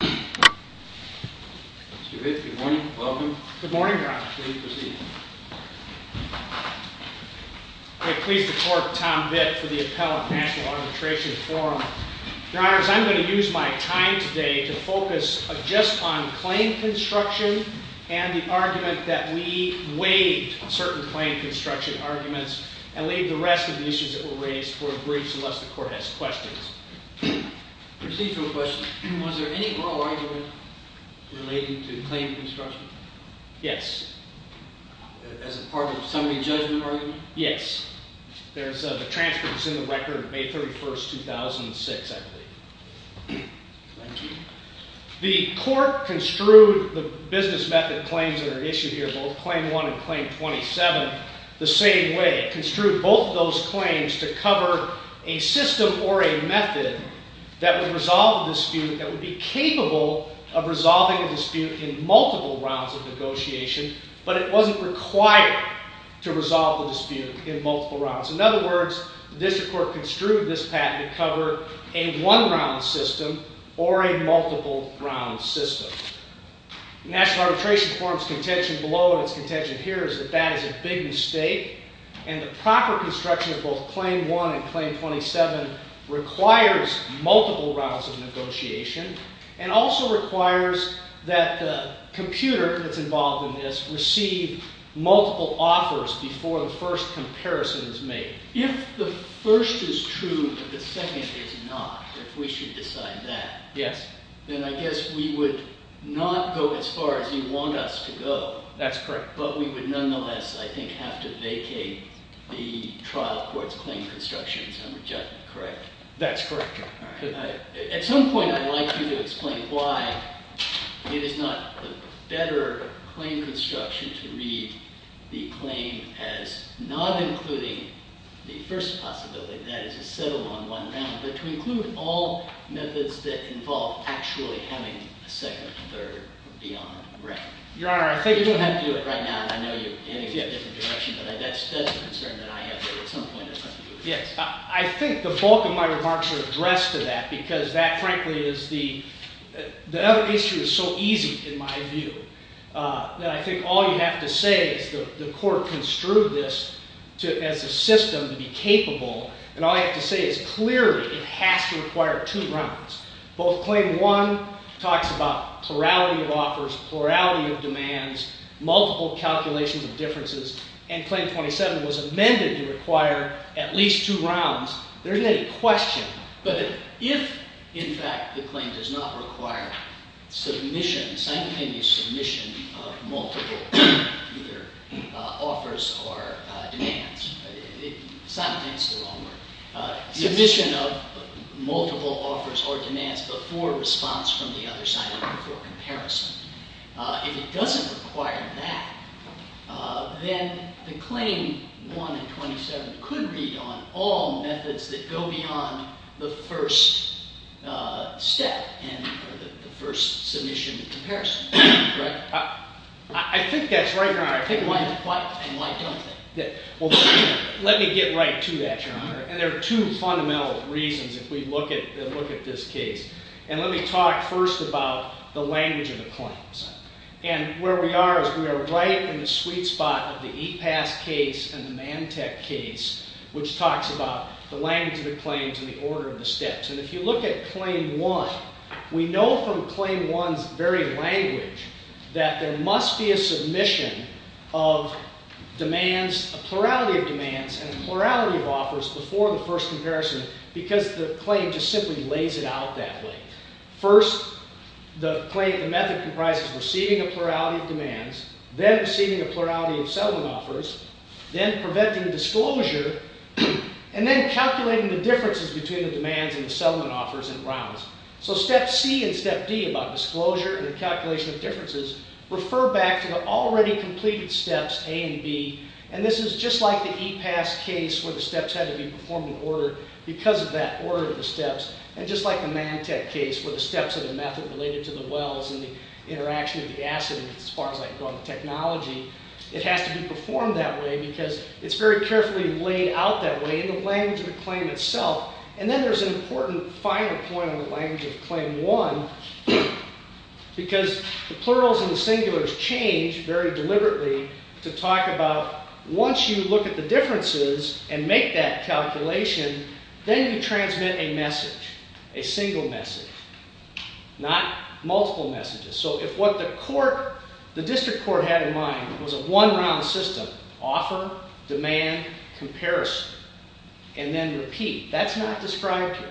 Mr. Vitt, good morning. Welcome. Good morning, Your Honor. Please proceed. I'm pleased to report Tom Vitt for the Appellate National Arbitration Forum. Your Honor, as I'm going to use my time today to focus just on claim construction and the argument that we waived certain claim construction arguments and leave the rest of the issues that were raised for a brief unless the Court has questions. Proceed to a question. Was there any oral argument related to the claim construction? Yes. As a part of somebody's judgment argument? Yes. There's a transcript that's in the record, May 31, 2006, I believe. Thank you. The Court construed the business method claims that are issued here, both Claim 1 and Claim 27, the same way. It construed both of those claims to cover a system or a method that would resolve a dispute that would be capable of resolving a dispute in multiple rounds of negotiation, but it wasn't required to resolve the dispute in multiple rounds. In other words, the District Court construed this patent to cover a one-round system or a multiple-round system. The National Arbitration Forum's contention below and its contention here is that that is a big mistake and the proper construction of both Claim 1 and Claim 27 requires multiple rounds of negotiation and also requires that the computer that's involved in this receive multiple offers before the first comparison is made. If the first is true but the second is not, if we should decide that, then I guess we would not go as far as you want us to go. That's correct. But we would nonetheless, I think, have to vacate the trial court's claim construction and reject it, correct? That's correct, Your Honor. At some point I'd like you to explain why it is not a better claim construction to read the claim as not including the first possibility, that is a settle on one round, but to include all methods that involve actually having a second, third, or beyond round. You don't have to do it right now. I know you're heading in a different direction, but that's a concern that I have at some point. I think the bulk of my remarks are addressed to that because that, frankly, is the other issue is so easy in my view that I think all you have to say is the court construed this as a system to be capable and all you have to say is clearly it has to require two rounds. Both Claim 1 talks about plurality of offers, plurality of demands, multiple calculations of differences, and Claim 27 was amended to require at least two rounds. There isn't any question. But if, in fact, the claim does not require submission, simultaneous submission of multiple offers or demands, simultaneous is the wrong word. Submission of multiple offers or demands before response from the other side and before comparison. If it doesn't require that, then the Claim 1 and 27 could be on all methods that go beyond the first step and the first submission and comparison. Right? I think that's right, Your Honor. Well, let me get right to that, Your Honor. And there are two fundamental reasons if we look at this case. And let me talk first about the language of the claims. And where we are is we are right in the sweet spot of the E-Pass case and the Mantec case which talks about the language of the claims and the order of the steps. And if you look at Claim 1, we know from Claim 1's very language that there must be a submission of demands, a plurality of demands and a plurality of offers before the first comparison because the claim just simply lays it out that way. First, the claim, the method comprises receiving a plurality of demands, then receiving a plurality of settlement offers, then preventing disclosure, and then calculating the differences between the demands and the settlement offers and rounds. So Step C and Step D about disclosure and the calculation of differences refer back to the already completed steps, A and B, and this is just like the E-Pass case where the steps had to be performed in order because of that order of the steps, and just like the Mantec case where the steps are the method related to the wells and the interaction of the acid as far as I can go on the technology, it has to be performed that way because it's very carefully laid out that way in the language of the claim itself. And then there's an important final point on the language of Claim 1 because the plurals and the singulars change very deliberately to talk about once you look at the differences and make that calculation, then you transmit a message, a single message, not multiple messages. So if what the District Court had in mind was a one-round system, offer, demand, comparison, and then repeat, that's not described here.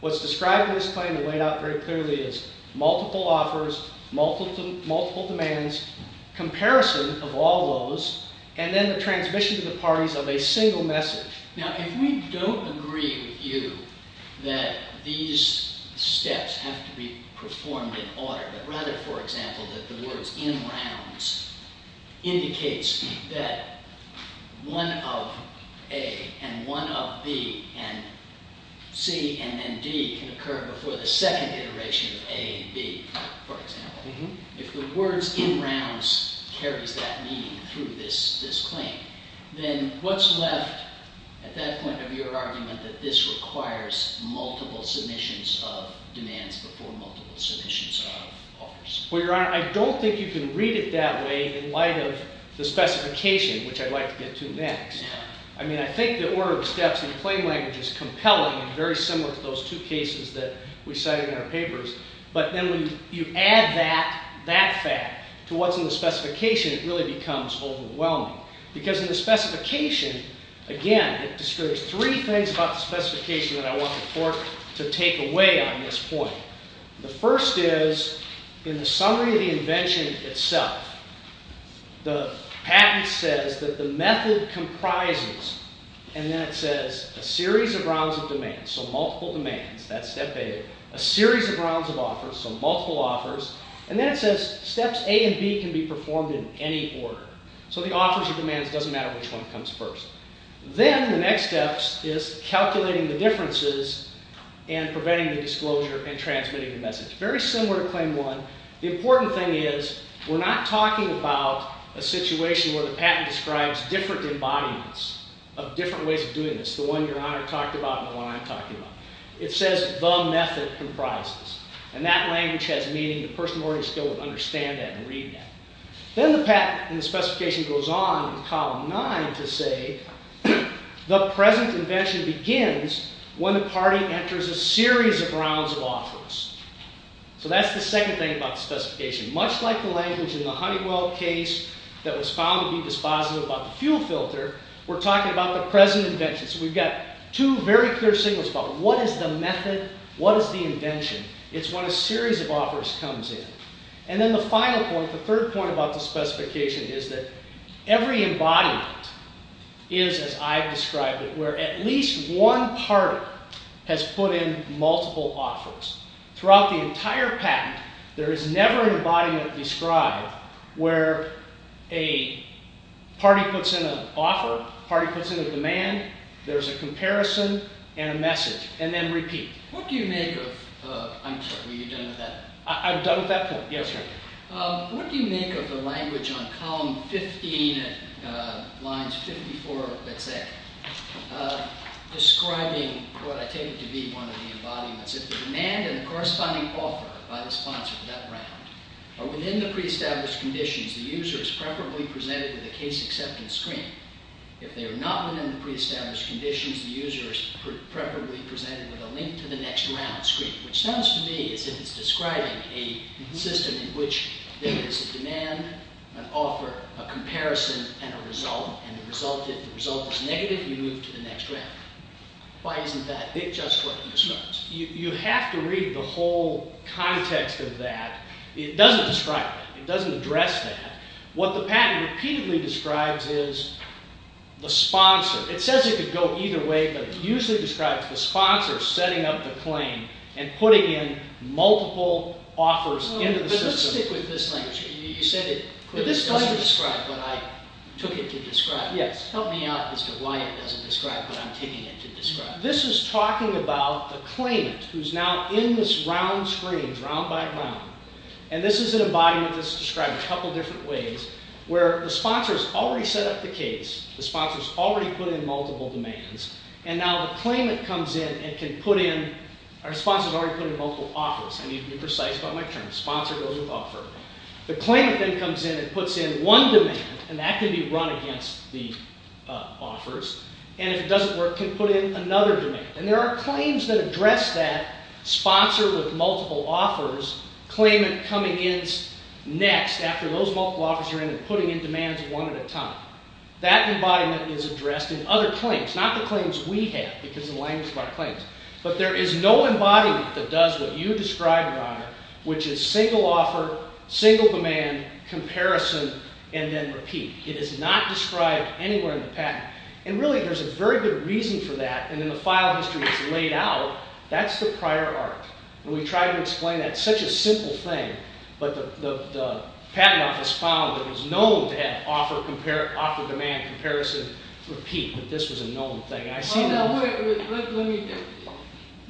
What's described in this claim and laid out very clearly is multiple offers, multiple demands, comparison of all those, and then the transmission to the parties of a single message. Now if we don't agree with you that these steps have to be performed in order, but rather, for example, that the words in rounds indicates that one of A and one of B and C and then D can occur before the second iteration of A and B, for example. If the words in rounds carries that meaning through this claim, then what's left at that point of your argument that this requires multiple submissions of demands before multiple submissions of offers? Well, Your Honor, I don't think you can read it that way in light of the specification, which I'd like to get to next. I mean, I think the order of steps in the claim language is compelling and very similar to those two cases that we cite in our papers. But then when you add that fact to what's in the specification, it really becomes overwhelming. Because in the specification, again, it discourages three things about the specification that I want the Court to take away on this point. The first is, in the summary of the invention itself, the patent says that the method comprises, and then it says, a series of rounds of demands. So multiple demands, that's step A. A series of rounds of offers, so multiple offers. And then it says steps A and B can be performed in any order. So the offers or demands, it doesn't matter which one comes first. Then the next step is calculating the differences and preventing the disclosure and transmitting the message. Very similar to Claim 1. The important thing is, we're not talking about a situation where the patent describes different embodiments of different ways of doing this, the one Your Honor talked about and the one I'm talking about. It says, the method comprises. And that language has meaning. The person already still would understand that and read that. Then the patent and the specification goes on in Column 9 to say, the present invention begins when the party enters a series of rounds of offers. So that's the second thing about the specification. Much like the language in the Honeywell case that was found to be dispositive about the fuel filter, we're talking about the present invention. So we've got two very clear signals about what is the method, what is the invention. It's when a series of offers comes in. And then the final point, the third point about the specification, is that every embodiment is, as I've described it, where at least one party has put in multiple offers. Throughout the entire patent, there is never an embodiment described where a party puts in an offer, a party puts in a demand, there's a comparison and a message, and then repeat. What do you make of, I'm sorry, what you've done with that? I've done with that point. Yes, sir. What do you make of the language on Column 15, lines 54, let's say, describing what I take to be one of the embodiments. If the demand and the corresponding offer by the sponsor for that round are within the pre-established conditions, the user is preferably presented with a case acceptance screen. If they are not within the pre-established conditions, the user is preferably presented with a link to the next round screen. Which sounds to me as if it's describing a system in which there is a demand, an offer, a comparison, and a result, and if the result is negative, you move to the next round. Why isn't that just what it describes? You have to read the whole context of that. It doesn't describe that. It doesn't address that. What the patent repeatedly describes is the sponsor. It says it could go either way, but it usually describes the sponsor setting up the claim and putting in multiple offers into the system. Let's stick with this language. You said it doesn't describe what I took it to describe. Help me out as to why it doesn't describe what I'm taking it to describe. This is talking about the claimant, who's now in this round screen, it's round by round, and this is an embodiment that's described a couple different ways, where the sponsor's already set up the case, the sponsor's already put in multiple demands, and now the claimant comes in and can put in, or the sponsor's already put in multiple offers. I need to be precise about my terms. Sponsor goes with offer. The claimant then comes in and puts in one demand, and that can be run against the offers, and if it doesn't work, can put in another demand. And there are claims that address that, sponsor with multiple offers, claimant coming in next after those multiple offers are in and putting in demands one at a time. That embodiment is addressed in other claims, not the claims we have, because of the language of our claims. But there is no embodiment that does what you describe, Your Honor, which is single offer, single demand, comparison, and then repeat. It is not described anywhere in the patent. And really, there's a very good reason for that, and then the file history is laid out. That's the prior art. When we try to explain that, it's such a simple thing, but the patent office found that it was known to have offer, demand, comparison, repeat, but this was a known thing.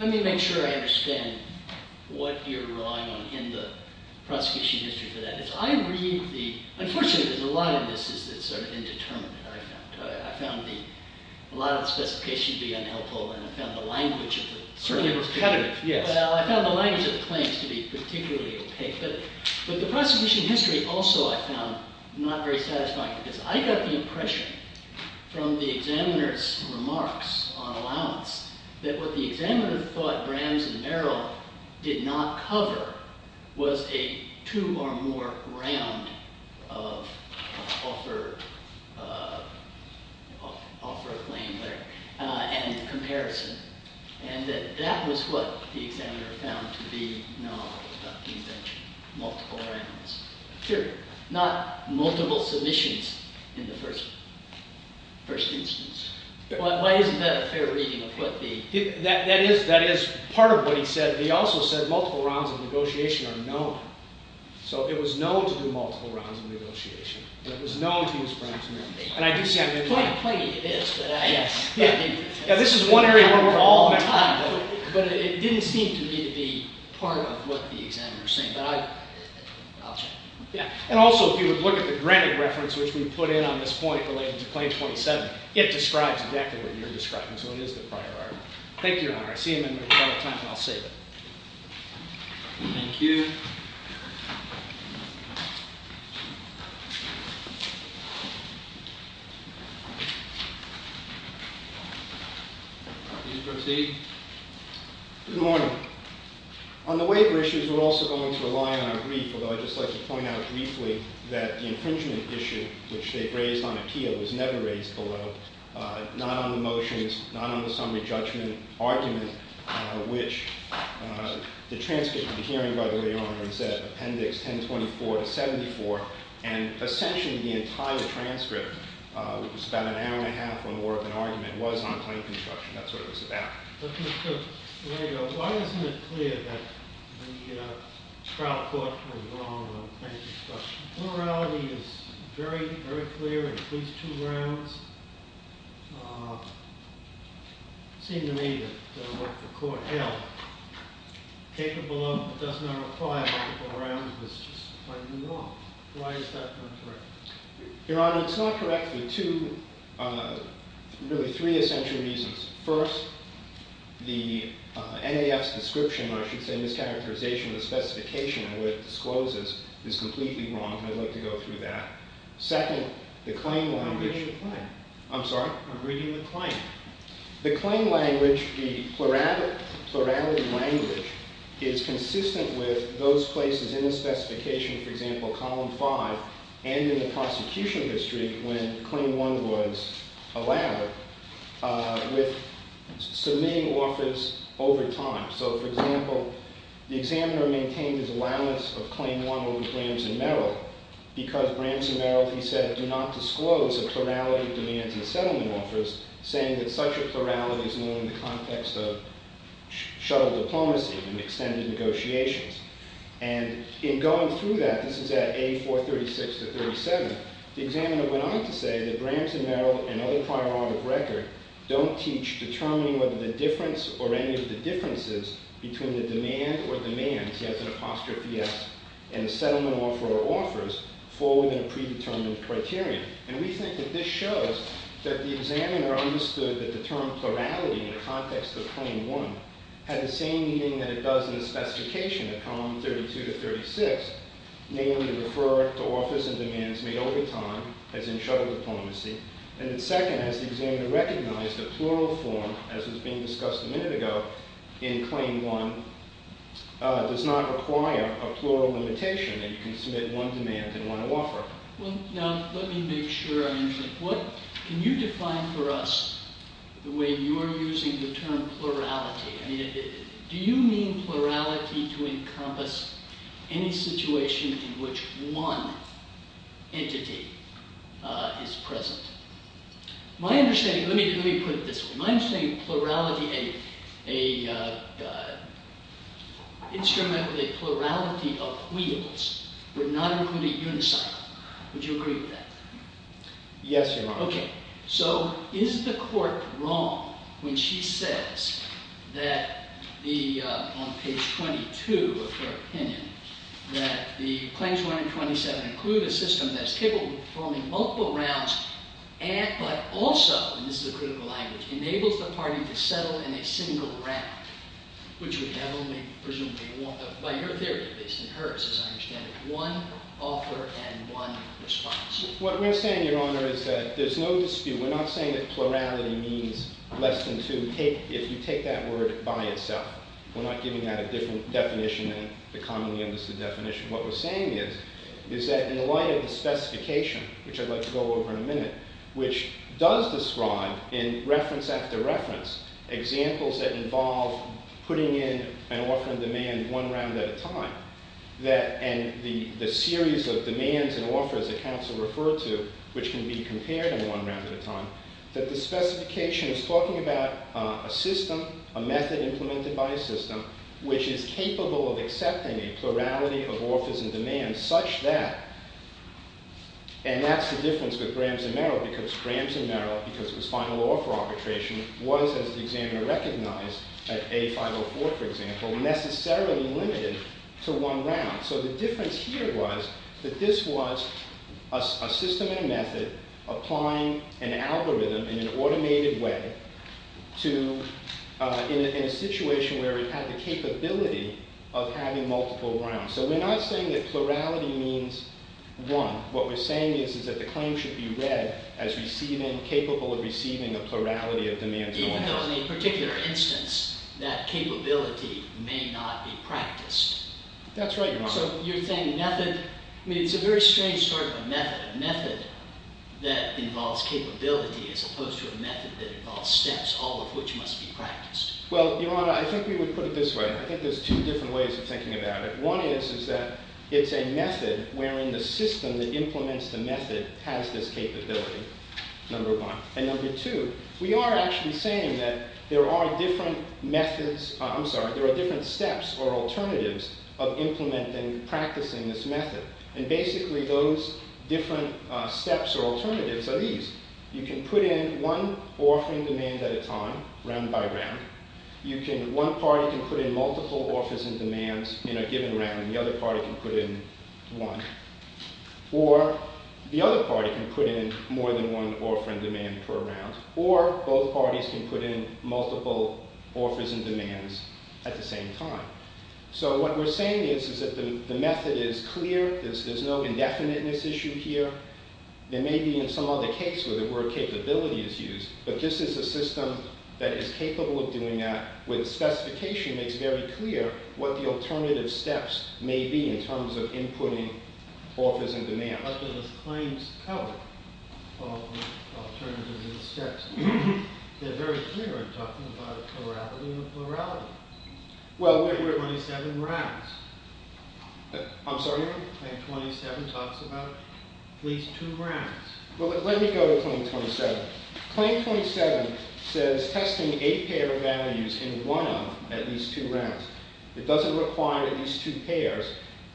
Let me make sure I understand what you're relying on in the prosecution history for that. Unfortunately, a lot of this is sort of indeterminate, I found. I found a lot of the specifications to be unhelpful, and I found the language of the claims to be repetitive. Well, I found the language of the claims to be particularly opaque, but the prosecution history also I found not very satisfying, because I got the impression from the examiner's remarks on allowance that what the examiner thought Brams and Merrill did not cover was a two or more round of offer, offer a claim there, and comparison, and that that was what the examiner found to be null, not the invention, multiple rounds, period. Not multiple submissions in the first instance. Why isn't that a fair reading of what the... That is part of what he said, but he also said multiple rounds of negotiation are known. So it was known to do multiple rounds of negotiation, but it was known to use Brams and Merrill. And I do see... Quite plainly it is, but I... Yeah, this is one area where we're all... But it didn't seem to me to be part of what the examiner was saying. Yeah, and also if you would look at the granted reference which we put in on this point relating to claim 27, it describes exactly what you're describing, so it is the prior argument. Thank you, Your Honor. I see a member who's out of time, and I'll save it. Thank you. Please proceed. Good morning. On the waiver issues, we're also going to rely on our brief, although I'd just like to point out briefly that the infringement issue, which they've raised on appeal, was never raised below, not on the motions, not on the summary judgment argument, which the transcript you're hearing, by the way, Your Honor, is at appendix 1024 to 74, and essentially the entire transcript, which is about an hour and a half or more of an argument, was on plain construction. That's what it was about. Why isn't it clear that the trial court was wrong on plain construction? Plurality is very, very clear in at least two rounds. It seemed to me that what the court held, capable of but does not apply in multiple rounds, was just plain wrong. Why is that not correct? Your Honor, it's not correct for two, really three essential reasons. First, the NAF's description, or I should say mischaracterization of the specification and what it discloses, is completely wrong. I'd like to go through that. Second, the claim language... I'm reading the claim. I'm sorry? I'm reading the claim. The claim language, the plurality language, is consistent with those places in the specification, for example, column 5, and in the prosecution history when claim one was allowed, with submitting offers over time. So, for example, the examiner maintained his allowance of claim one over Brams and Merrill because Brams and Merrill, he said, do not disclose a plurality of demands in settlement offers, saying that such a plurality is known in the context of shuttle diplomacy and extended negotiations. And in going through that, this is at A436-37, the examiner went on to say that Brams and Merrill and other prior art of record don't teach determining whether the difference or any of the differences between the demand or demands, he has an apostrophe S, and the settlement offer or offers fall within a predetermined criterion. And we think that this shows that the examiner understood that the term plurality in the context of claim one had the same meaning that it does in the specification, at column 32-36, namely to refer to offers and demands made over time, as in shuttle diplomacy. And second, as the examiner recognized, a plural form, as was being discussed a minute ago, in claim one does not require a plural limitation that you can submit one demand and one offer. Well, now, let me make sure I understand. Can you define for us the way you're using the term plurality? Do you mean plurality to encompass any situation in which one entity is present? My understanding, let me put it this way. My understanding of plurality, an instrument with a plurality of wheels would not include a unicycle. Would you agree with that? Yes, Your Honor. Okay. So, is the court wrong when she says that on page 22 of her opinion, that the claims 1 and 27 include a system that is capable of performing multiple rounds, but also, and this is a critical language, enables the party to settle in a single round, which would have only, presumably, by her theory, based on hers, as I understand it, one offer and one response. What we're saying, Your Honor, is that there's no dispute. We're not saying that plurality means less than two. If you take that word by itself, we're not giving that a different definition than the commonly understood definition. What we're saying is, is that in light of the specification, which I'd like to go over in a minute, which does describe in reference after reference examples that involve putting in an offer and demand one round at a time, and the series of demands and offers that counsel refer to, which can be compared in one round at a time, that the specification is talking about a system, a method implemented by a system, which is capable of accepting a plurality of offers and demands such that, and that's the difference with Graham's and Merrill, because Graham's and Merrill, because it was final law for arbitration, was, as the examiner recognized, at A504, for example, necessarily limited to one round. So the difference here was that this was a system and a method applying an algorithm in an automated way to, in a situation where it had the capability of having multiple rounds. So we're not saying that plurality means one. What we're saying is, is that the claim should be read as receiving, capable of receiving a plurality of demands and offers. Even though in a particular instance that capability may not be practiced. That's right, Your Honor. So you're saying method, I mean, it's a very strange sort of a method, a method that involves capability as opposed to a method that involves steps, all of which must be practiced. Well, Your Honor, I think we would put it this way. I think there's two different ways of thinking about it. One is that it's a method wherein the system that implements the method has this capability, number one. And number two, we are actually saying that there are different methods, I'm sorry, there are different steps or alternatives of implementing, practicing this method. And basically those different steps or alternatives are these. You can put in one offering demand at a time, round by round. One party can put in multiple offers and demands in a given round, and the other party can put in one. Or the other party can put in more than one offer and demand per round. Or both parties can put in multiple offers and demands at the same time. So what we're saying is, is that the method is clear, there's no indefiniteness issue here. There may be in some other case where the word capability is used, but this is a system that is capable of doing that with specification that's very clear what the alternative steps may be in terms of inputting offers and demands. But there's claims covered of alternative steps. They're very clear in talking about plurality and plurality. Well, we're... 27 rounds. I'm sorry? Claim 27 talks about at least two rounds. Well, let me go to claim 27. Claim 27 says testing a pair of values in one of at least two rounds. It doesn't require at least two pairs,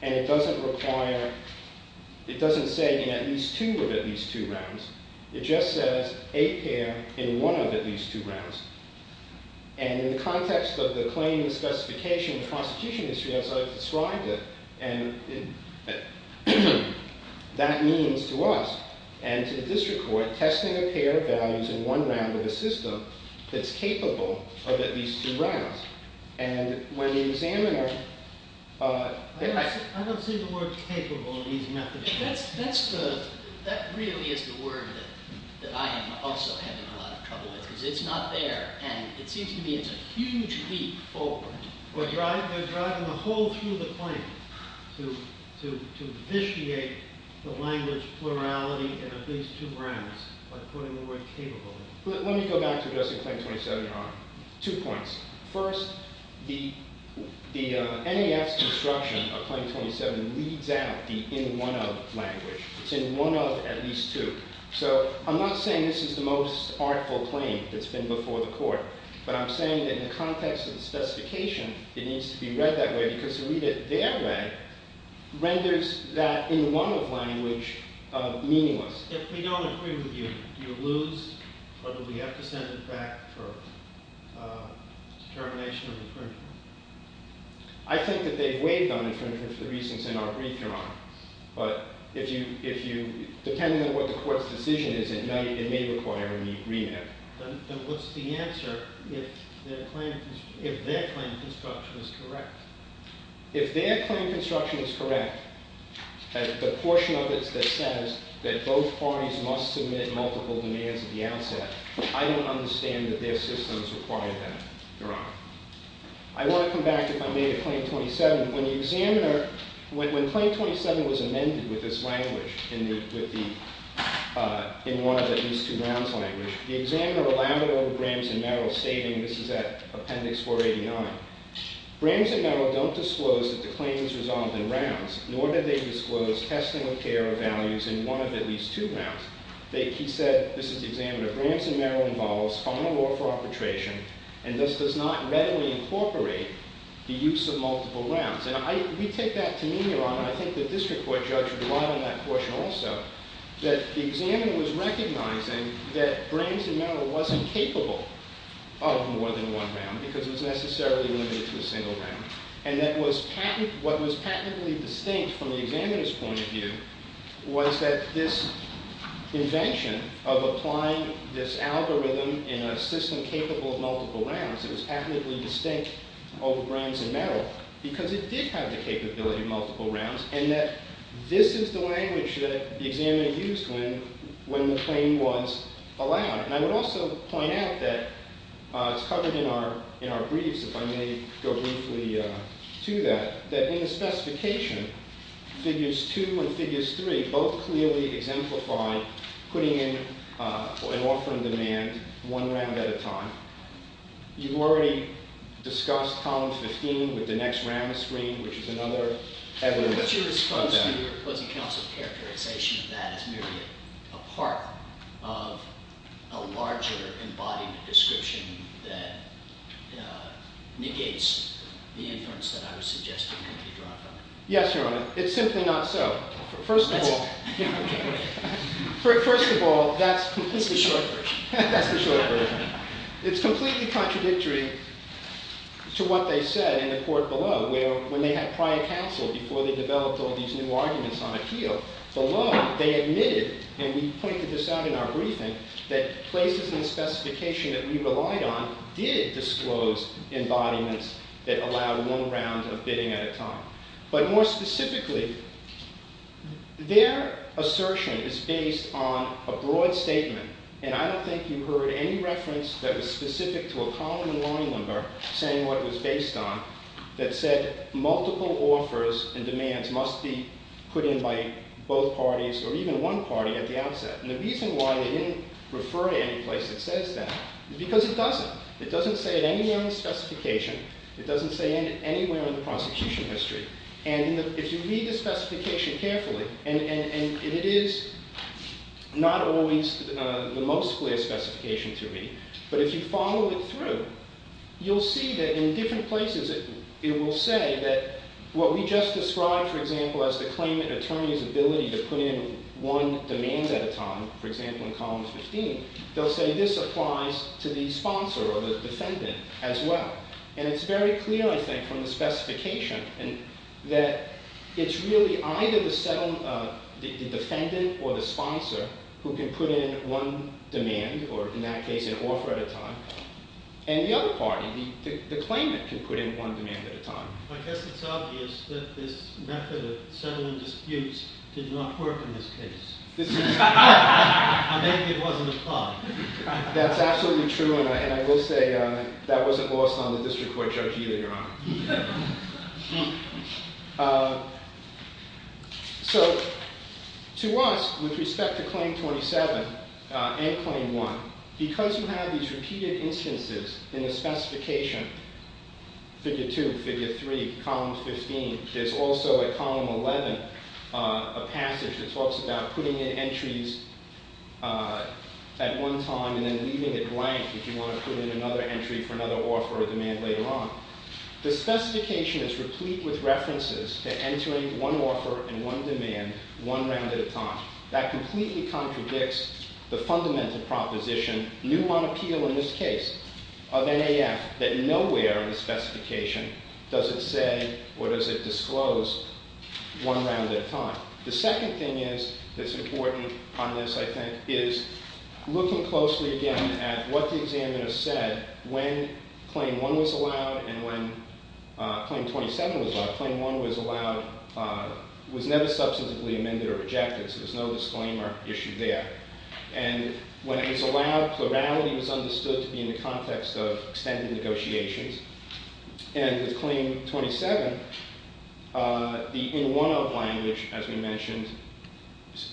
and it doesn't require... it doesn't say in at least two of at least two rounds. It just says a pair in one of at least two rounds. And in the context of the claim and the specification and the constitution history as I've described it, that means to us and to the district court testing a pair of values in one round of a system that's capable of at least two rounds. And when the examiner... I don't see the word capable in these methods. That really is the word that I am also having a lot of trouble with because it's not there, and it seems to me it's a huge leap forward. They're driving a hole through the claim to vitiate the language plurality in at least two rounds by putting the word capable. Let me go back to addressing claim 27, Your Honor. Two points. First, the NEF's construction of claim 27 leads out the in one of language. It's in one of at least two. So, I'm not saying this is the most artful claim that's been before the court, but I'm saying that in the context of the specification, it needs to be read that way because to read it their way renders that in one of language meaningless. If we don't agree with you, do you lose or do we have to send it back for termination of infringement? I think that they've waived on infringement for the reasons in our brief, Your Honor. But if you depend on what the court's decision is at night, it may require a re-read. Then what's the answer if their claim construction is correct? If their claim construction is correct, the portion of it that says that both parties must submit multiple demands at the outset, I don't understand that their systems require that, Your Honor. I want to come back to my native claim 27. When the examiner, when claim 27 was amended with this language, in one of at least two rounds language, the examiner allowed it over Brams and Merrill stating, this is at Appendix 489, Brams and Merrill don't disclose that the claim is resolved in rounds, nor did they disclose testing and care values in one of at least two rounds. He said, this is the examiner, Brams and Merrill involves final law for arbitration and thus does not readily incorporate the use of multiple rounds. And I, we take that to mean, Your Honor, I think the district court judged a lot on that portion also that the examiner was recognizing that Brams and Merrill wasn't capable of more than one round because it was necessarily limited to a single round and that what was patently distinct from the examiner's point of view was that this invention of applying this algorithm in a system capable of multiple rounds, it was patently distinct over Brams and Merrill because it did have the capability of multiple rounds and that this is the language that the examiner used when the claim was allowed. And I would also point out that it's covered in our briefs, if I may go briefly to that, that in the specification figures 2 and figures 3 both clearly exemplify putting in an offer in demand one round at a time. You've already discussed column 15 with the next round screen, which is another evidence of that. Your response to your opposing counsel's characterization of that as merely a part of a larger embodied description that negates the inference that I was suggesting can be drawn from it. Yes, Your Honor. It's simply not so. First of all, first of all, that's the short version. It's completely contradictory to what they said in the court below, where when they had prior counsel before they developed all these new arguments on appeal, below they admitted, and we pointed this out in our briefing, that places in the specification that we relied on did disclose embodiments that allowed one round of bidding at a time. But more specifically, their assertion is based on a broad statement, and I don't think you heard any reference that was specific to a column in that they based on that said multiple offers and demands must be put in by both parties or even one party at the outset. And the reason why they didn't refer to any place that says that is because it doesn't. It doesn't say it anywhere in the specification. It doesn't say it anywhere in the prosecution history. And if you read the specification carefully, and it is not always the most clear specification to read, but if you follow it through, you'll see that in different places it will say that what we just described, for example, as the claimant attorney's ability to put in one demand at a time, for example, in column 15, they'll say this applies to the sponsor or the defendant as well. And it's very clear, I think, from the specification that it's really either the defendant or the sponsor who can put in one demand, or in that case an offer at a time. And the other party, the claimant, can put in one demand at a time. I guess it's obvious that this method of settling disputes did not work in this case. Or maybe it wasn't applied. That's absolutely true, and I will say that wasn't lost on the district court judge either, Your Honor. So, to us, with respect to Claim 27 and Claim 1, because you have these repeated instances in the specification, figure 2, figure 3, column 15, there's also at column 11 a passage that talks about putting in entries at one time and then leaving it blank if you want to put in another entry for another offer or demand later on. The specification is replete with references to entering one offer and one demand one round at a time. That completely contradicts the fundamental proposition, new on appeal in this case, of NAF, that nowhere in the specification does it say or does it disclose one round at a time. The second thing that's important on this, I think, is looking closely again at what the examiner said when Claim 1 was allowed and when Claim 27 was allowed. Claim 1 was never substantively amended or rejected, so there's no disclaimer issue there. When it was allowed, plurality was understood to be in the context of extended negotiations. With Claim 27, the in-one-of language, as we mentioned,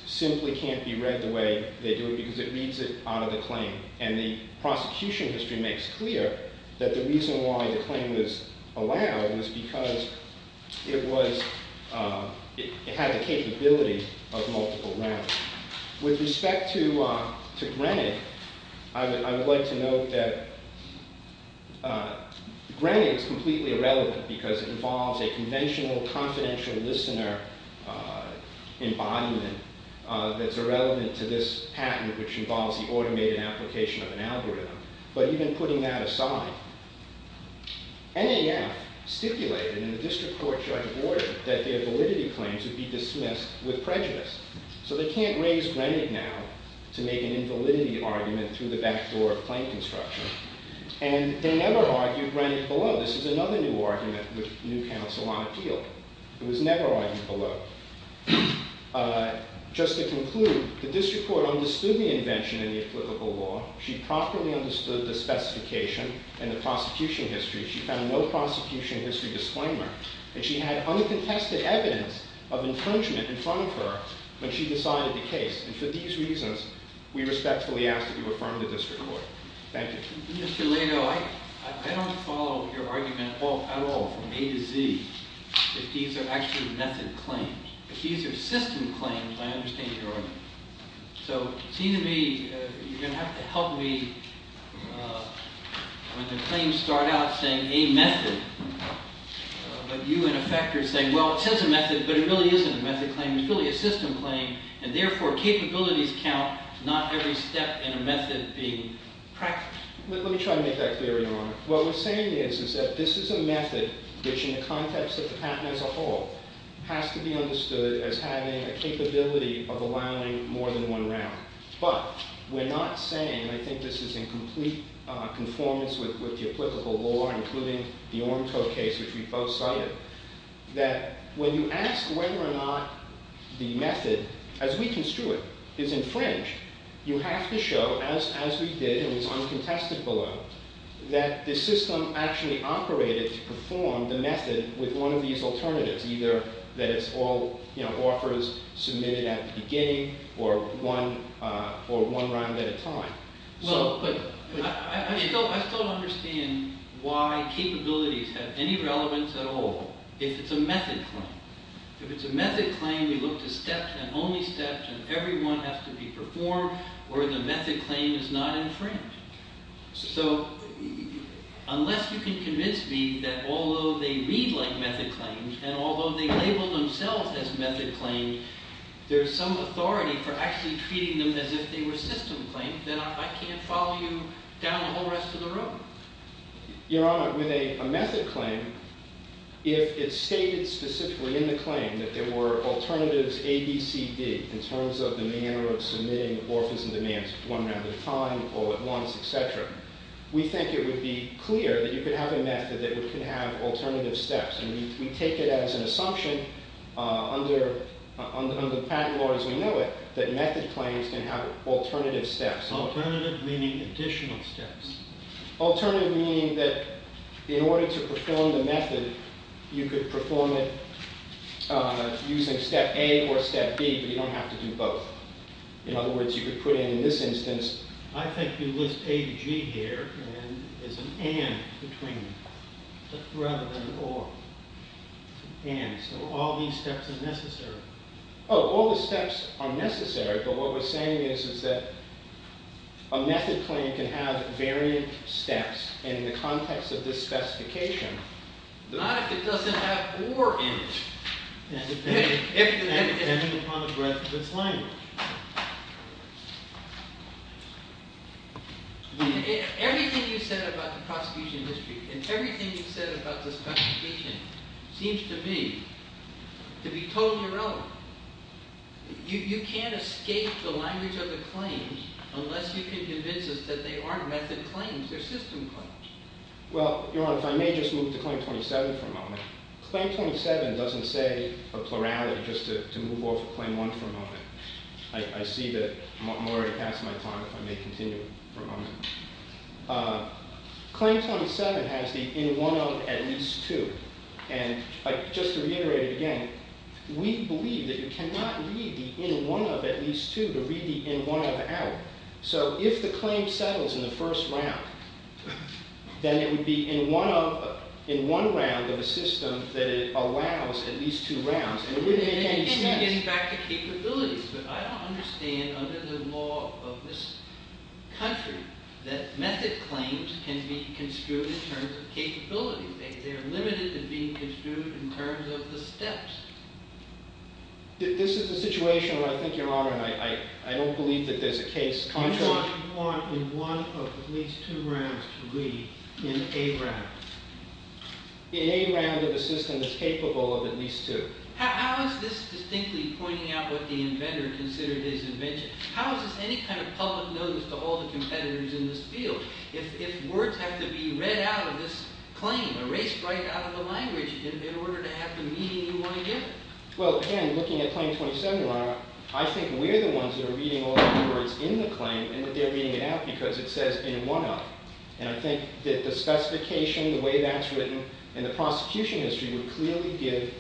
simply can't be read the way they do it because it reads it out of the claim. The prosecution history makes clear that the reason why the claim was allowed was because it had the capability of multiple rounds. With respect to Greenick, I would like to note that Greenick is completely irrelevant because it involves a conventional confidential listener embodiment that's irrelevant to this patent, which involves the automated application of an algorithm. But even putting that aside, NAF stipulated in the District Court Judgment Order that their validity claims would be dismissed with prejudice. So they can't raise Greenick now to make an invalidity argument through the back door of claim construction. And they never argued Greenick below. This is another new argument which new counsel won't appeal. It was never argued below. Just to conclude, the District Court understood the invention in the applicable law. She properly understood the specification and the prosecution history. She found no She had uncontested evidence of infringement in front of her when she decided the case. And for these reasons, we respectfully ask that you affirm the District Court. Thank you. Mr. Lato, I don't follow your argument at all, from A to Z, that these are actually method claims. If these are system claims, I understand your argument. So it seems to me you're going to have to help me when the claims start out saying a method, but you, in effect, are saying, well, it says a method, but it really isn't a method claim. It's really a system claim. And therefore, capabilities count, not every step in a method being practiced. Let me try to make that clear, Your Honor. What we're saying is that this is a method which, in the context of the patent as a whole, has to be understood as having a capability of allowing more than one round. But we're not saying, and I think this is in complete conformance with the applicable law, including the Ormco case, which we both cited, that when you ask whether or not the method as we construe it is infringed, you have to show, as we did, and it's uncontested below, that the system actually operated to perform the method with one of these alternatives, either that it's all offers submitted at the beginning, or one round at a time. Well, but I still understand why capabilities have any relevance at all if it's a method claim. If it's a method claim, we look to steps and only steps, and everyone has to be performed where the method claim is not infringed. So, unless you can convince me that although they read like method claims, and although they label themselves as method claims, there's some authority for actually treating them as if they were system claims, then I can't follow you down the whole rest of the room. Your Honor, with a method claim, if it's stated specifically in the claim that there were alternatives A, B, C, D, in terms of the manner of submitting offers and demands one round at a time, all at once, etc., we think it would be clear that you could have a method that could have alternative steps, and we take it as an assumption under patent law as we know it, that method claims can have alternative steps. Alternative meaning additional steps. Alternative meaning that in order to perform the method, you could perform it using step A or step B, but you don't have to do both. In other words, you could put in in this instance, I think you list A to G here, and there's an and between them, rather than or. And, so all these steps are necessary. Oh, all the steps are necessary, but what we're saying is that a method claim can have variant steps in the context of this specification. Not if it doesn't have or in it. If and when, depending upon the breadth of its language. Everything you said about the prosecution history and everything you said about this prosecution seems to be to be totally relevant. You can't escape the language of the claims unless you can convince us that they aren't method claims, they're system claims. Well, Your Honor, if I may just move to Claim 27 for a moment. Claim 27 doesn't say a plurality just to move off of Claim 1 for a moment. I see that I'm already past my time, if I may continue for a moment. Claim 27 has the in one of at least two. And, just to reiterate it again, we believe that you cannot read the in one of at least two to read the in one of out. So, if the claim settles in the first round, then it would be in one of, in one round of a system that it allows at least two rounds. You can get back to capabilities, but I don't understand under the law of this country that method claims can be construed in terms of capabilities. They're limited to being construed in terms of the steps. This is a situation where I think, Your Honor, and I don't believe that there's a case contrary. You want in one of at least two rounds to read in a round. In a round of a system that's capable of at least two. How is this distinctly pointing out what the inventor considered his invention? How is this any kind of public notice to all the competitors in this field? If words have to be read out of this claim, erased right out of the language in order to have the meaning you want to give it. Well, again, looking at Claim 27, Your Honor, I think we're the ones that are reading all the words in the claim and that they're reading it out because it says in one of. And I think that the specification, the way that's written in the prosecution history would clearly give,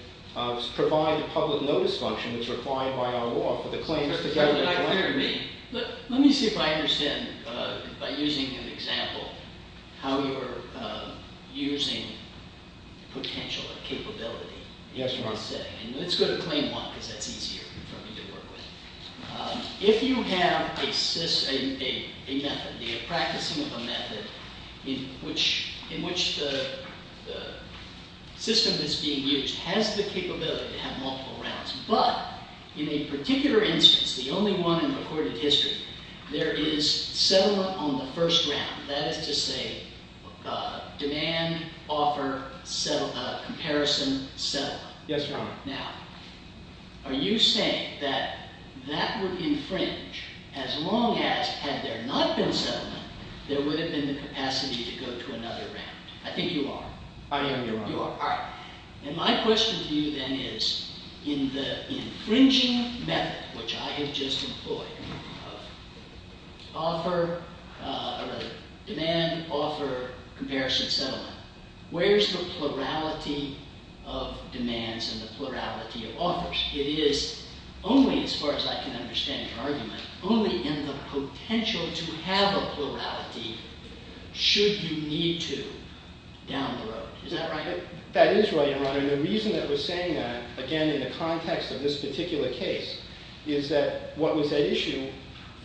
provide the public notice function that's required by our law for the claims to go in one of. Let me see if I understand by using an example how you're using potential or capability. Yes, Your Honor. Let's go to Claim 1 because that's easier for me to work with. If you have a method, you're practicing with a method in which the system that's being used has the capability to have multiple rounds, but in a particular instance, the only one in recorded history, there is settlement on the first round. That is to say, demand, offer, comparison, settlement. Yes, Your Honor. Now, are you saying that that would infringe as long as, had there not been settlement, there would have been the capacity to go to another round? I think you are. I am, Your Honor. You are. And my question to you then is in the infringing method, which I have just employed, demand, offer, comparison, settlement, where's the plurality of demands and the plurality of offers? It is only, as far as I can understand your argument, only in the potential to have a plurality should you need to down the road. Is that right? That is right, Your Honor. And the reason that we're saying that, again, in the context of this particular case, is that what was at issue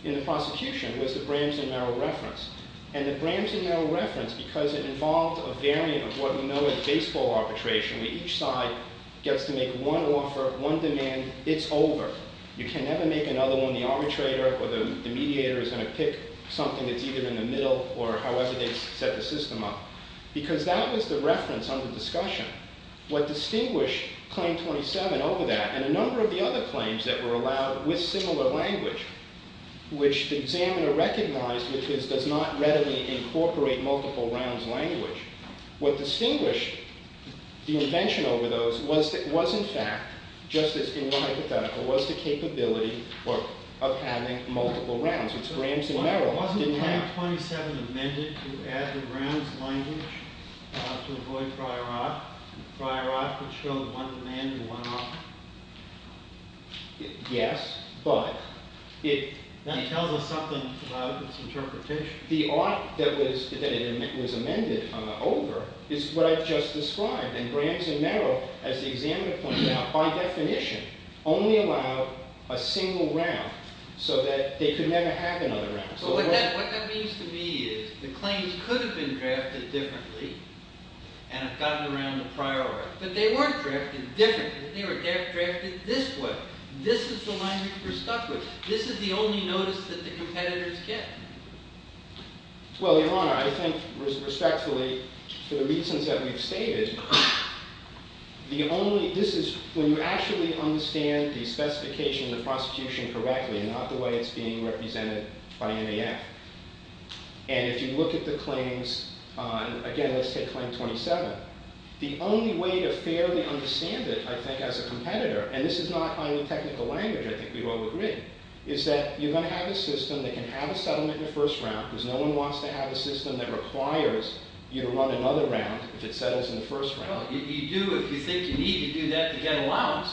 in the prosecution was the Bramson-Merrill reference. And the Bramson-Merrill reference, because it involved a variant of what we know as baseball arbitration, where each side gets to make one offer, one demand, it's over. You can never make another one. The arbitrator or the mediator is going to pick something that's either in the middle or however they set the system up. Because that was the reference under discussion. What distinguished Claim 27 over that, and a number of the other claims that were allowed with similar language, which the examiner recognized because it does not readily incorporate multiple rounds language, what distinguished the invention over those was in fact, just as in one hypothetical, was the capability of having multiple rounds, which Bramson-Merrill didn't have. Wasn't Claim 27 amended to add the rounds language to avoid prior art? Prior art, which showed one demand and one offer? Yes, but That tells us something about its interpretation. The art that was amended over is what I've just described. And Bramson-Merrill as the examiner pointed out, by definition, only allowed a single round, so that they could never have another round. What that means to me is the claims could have been drafted differently and gotten around the prior art, but they weren't drafted differently. They were drafted this way. This is the language we're stuck with. This is the only notice that the competitors get. Well, Your Honor, I think respectfully, for the reasons that we've stated, the only, this is, when you actually understand the specification of the prosecution correctly, not the way it's being represented by NAF, and if you look at the claims on, again, let's take Claim 27, the only way to fairly understand it, I think, as a competitor, and this is not any technical language, I think we've all agreed, is that you're going to have a system that can have a settlement in the first round, because no one wants to have a system that requires you to run another round if it settles in the first round. Well, you do, if you think you need to do that to get allowance.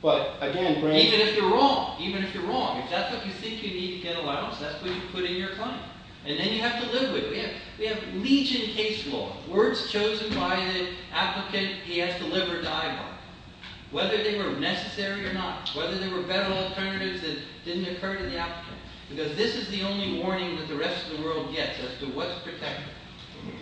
But, again, Bram- Even if you're wrong. Even if you're wrong. If that's what you think you need to get allowance, that's what you put in your case. We have legion case law. Words chosen by the applicant, he has to live or die by. Whether they were necessary or not. Whether there were better alternatives that didn't occur to the applicant. Because this is the only warning that the rest of the world gets as to what's protected.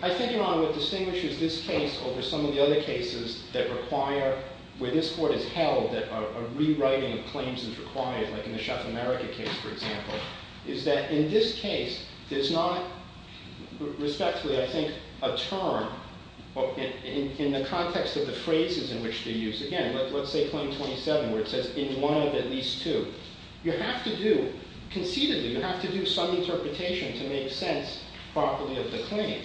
I think, Your Honor, what distinguishes this case over some of the other cases that require, where this Court has held that a rewriting of claims is required, like in the Chef America case, for example, is that in this case, there's not, respectfully, I think, a term in the context of the phrases in which they use. Again, let's say claim 27, where it says, in one of at least two. You have to do, concededly, you have to do some interpretation to make sense properly of the claim.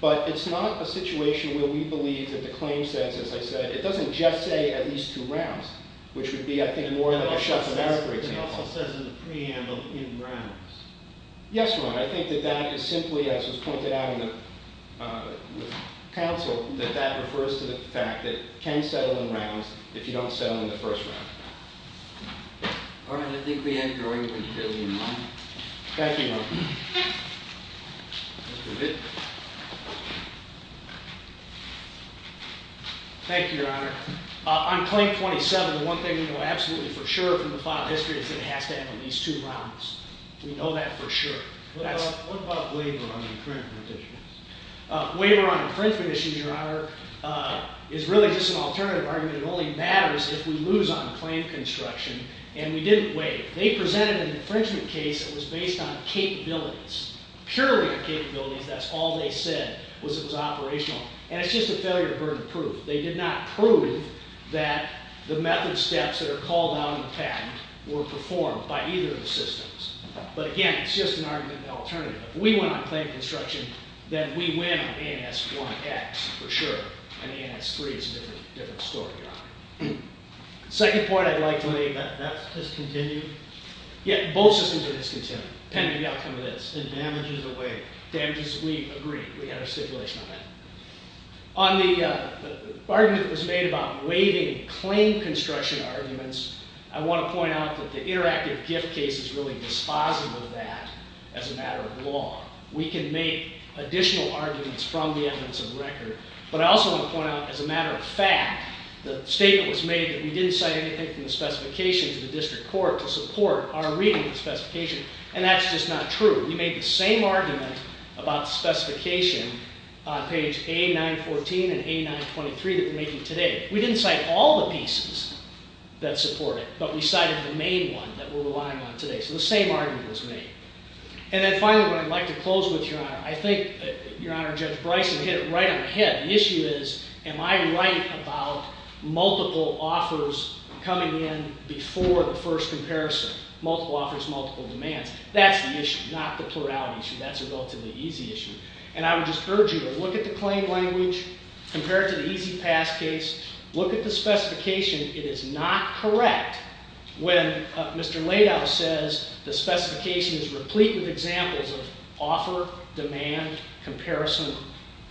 But it's not a situation where we believe that the claim says, as I said, it doesn't just say, at least two rounds. Which would be, I think, more than a Chef America example. It also says in the preamble, settle in rounds. Yes, Your Honor. I think that that is simply, as was pointed out in the counsel, that that refers to the fact that you can settle in rounds if you don't settle in the first round. All right. I think we end your argument fairly in line. Thank you, Your Honor. Thank you, Your Honor. On claim 27, one thing we know absolutely for sure from the plot of history is that it has to have at least two rounds. We know that for sure. What about waiver on infringement issues? Waiver on infringement issues, Your Honor, is really just an alternative argument. It only matters if we lose on claim construction, and we didn't waive. They presented an infringement case that was based on capabilities. Purely on capabilities. That's all they said, was it was operational. And it's just a failure to burn proof. They did not prove that the method steps that are called out in the patent were performed by either of the systems. But again, it's just an argument of an alternative. If we win on claim construction, then we win on ANS 1X for sure. And ANS 3 is a different story, Your Honor. Second point I'd like to make, that's discontinued. Yeah, both systems are discontinued, depending on the outcome of this, and damages are waived. Damages, we agree. We had a stipulation on that. On the argument that was under construction arguments, I want to point out that the interactive gift case is really dispositive of that as a matter of law. We can make additional arguments from the evidence of record, but I also want to point out, as a matter of fact, the statement was made that we didn't cite anything from the specifications of the district court to support our reading of the specification, and that's just not true. We made the same argument about the specification on page A-914 and A-923 that we're making today. We didn't cite all the pieces that support it, but we cited the main one that we're relying on today. So the same argument was made. And then finally, what I'd like to close with, Your Honor, I think, Your Honor, Judge Bryson hit it right on the head. The issue is, am I right about multiple offers coming in before the first comparison? Multiple offers, multiple demands. That's the issue, not the plurality issue. That's a relatively easy issue. And I would just urge you to look at the claim language, compare it to the easy pass case, look at the specification. It is not correct when Mr. Laidow says the specification is replete with examples of offer, demand, comparison,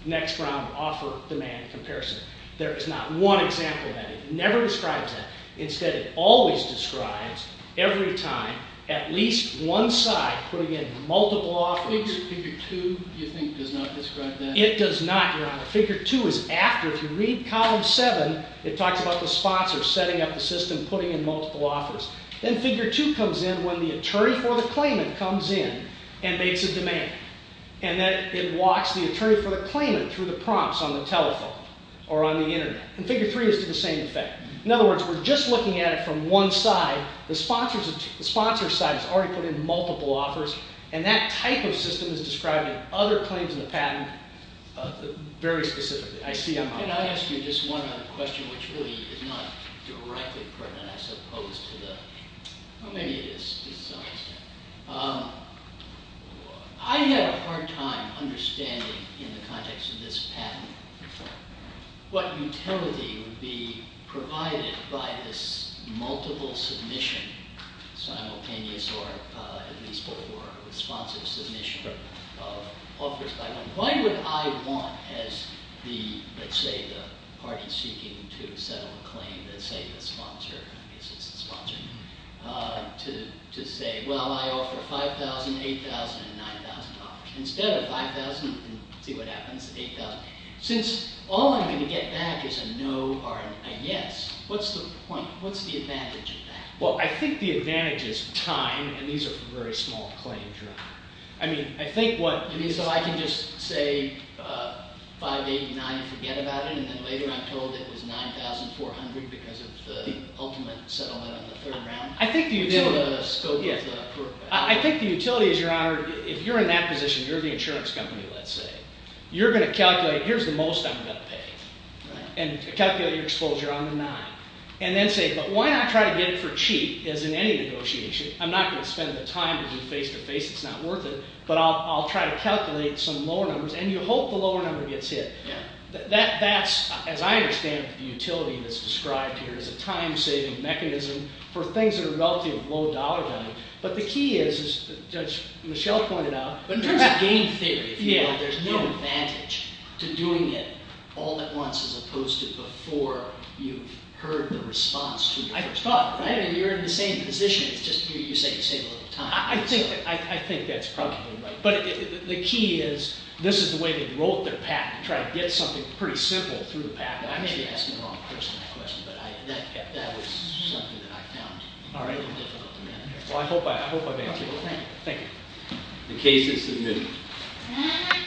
next round, offer, demand, comparison. There is not one example of that. It never describes that. Instead, it always describes, every time, at least one side putting in multiple offers. Figure 2, do you think, does not describe that? It does not, Your Honor. Figure 2 is after, if you read column 7, it talks about the sponsor setting up the system, putting in multiple offers. Then figure 2 comes in when the attorney for the claimant comes in and makes a demand. And then it walks the attorney for the claimant through the prompts on the telephone or on the internet. And figure 3 is to the same effect. In other words, we're just looking at it from one side. The sponsor's side has already put in multiple offers and that type of system is describing other claims in the patent very specifically. Can I ask you just one other question which really is not directly pertinent I suppose to the committee. I had a hard time understanding in the context of this patent what utility would be provided by this multiple submission, simultaneous or at least offers by one. Why would I want as the, let's say the party seeking to settle a claim, let's say the sponsor I guess it's the sponsor to say, well I offer $5,000, $8,000, and $9,000 instead of $5,000 and see what happens, $8,000. Since all I'm going to get back is a no or a yes, what's the point? What's the advantage of that? Well, I think the advantage is time and these are for very small claims. I mean, I think what... So I can just say $5,000, $8,000, $9,000 and forget about it and then later I'm told it was $9,400 because of the ultimate settlement on the third round? I think the utility is, your honor, if you're in that position, you're the insurance company let's say, you're going to calculate, here's the most I'm going to pay, and calculate your exposure on the nine. And then say, but why not try to get it for cheap as in any negotiation. I'm not going to spend the time to do face-to-face, it's not worth it. But I'll try to calculate some lower numbers and you hope the lower number gets hit. That's, as I understand it, the utility that's described here is a time-saving mechanism for things that are relatively low dollar value. But the key is, as Judge Michelle pointed out, in terms of game theory, if you want, there's no advantage to doing it all at once as opposed to before you've heard the response to your first offer. You're in the same position, you just save a little time. I think that's probably right. But the key is, this is the way they wrote their patent, trying to get something pretty simple through the patent. I may be asking the wrong person that question, but that was something that I found difficult to manage. Thank you. The case is submitted.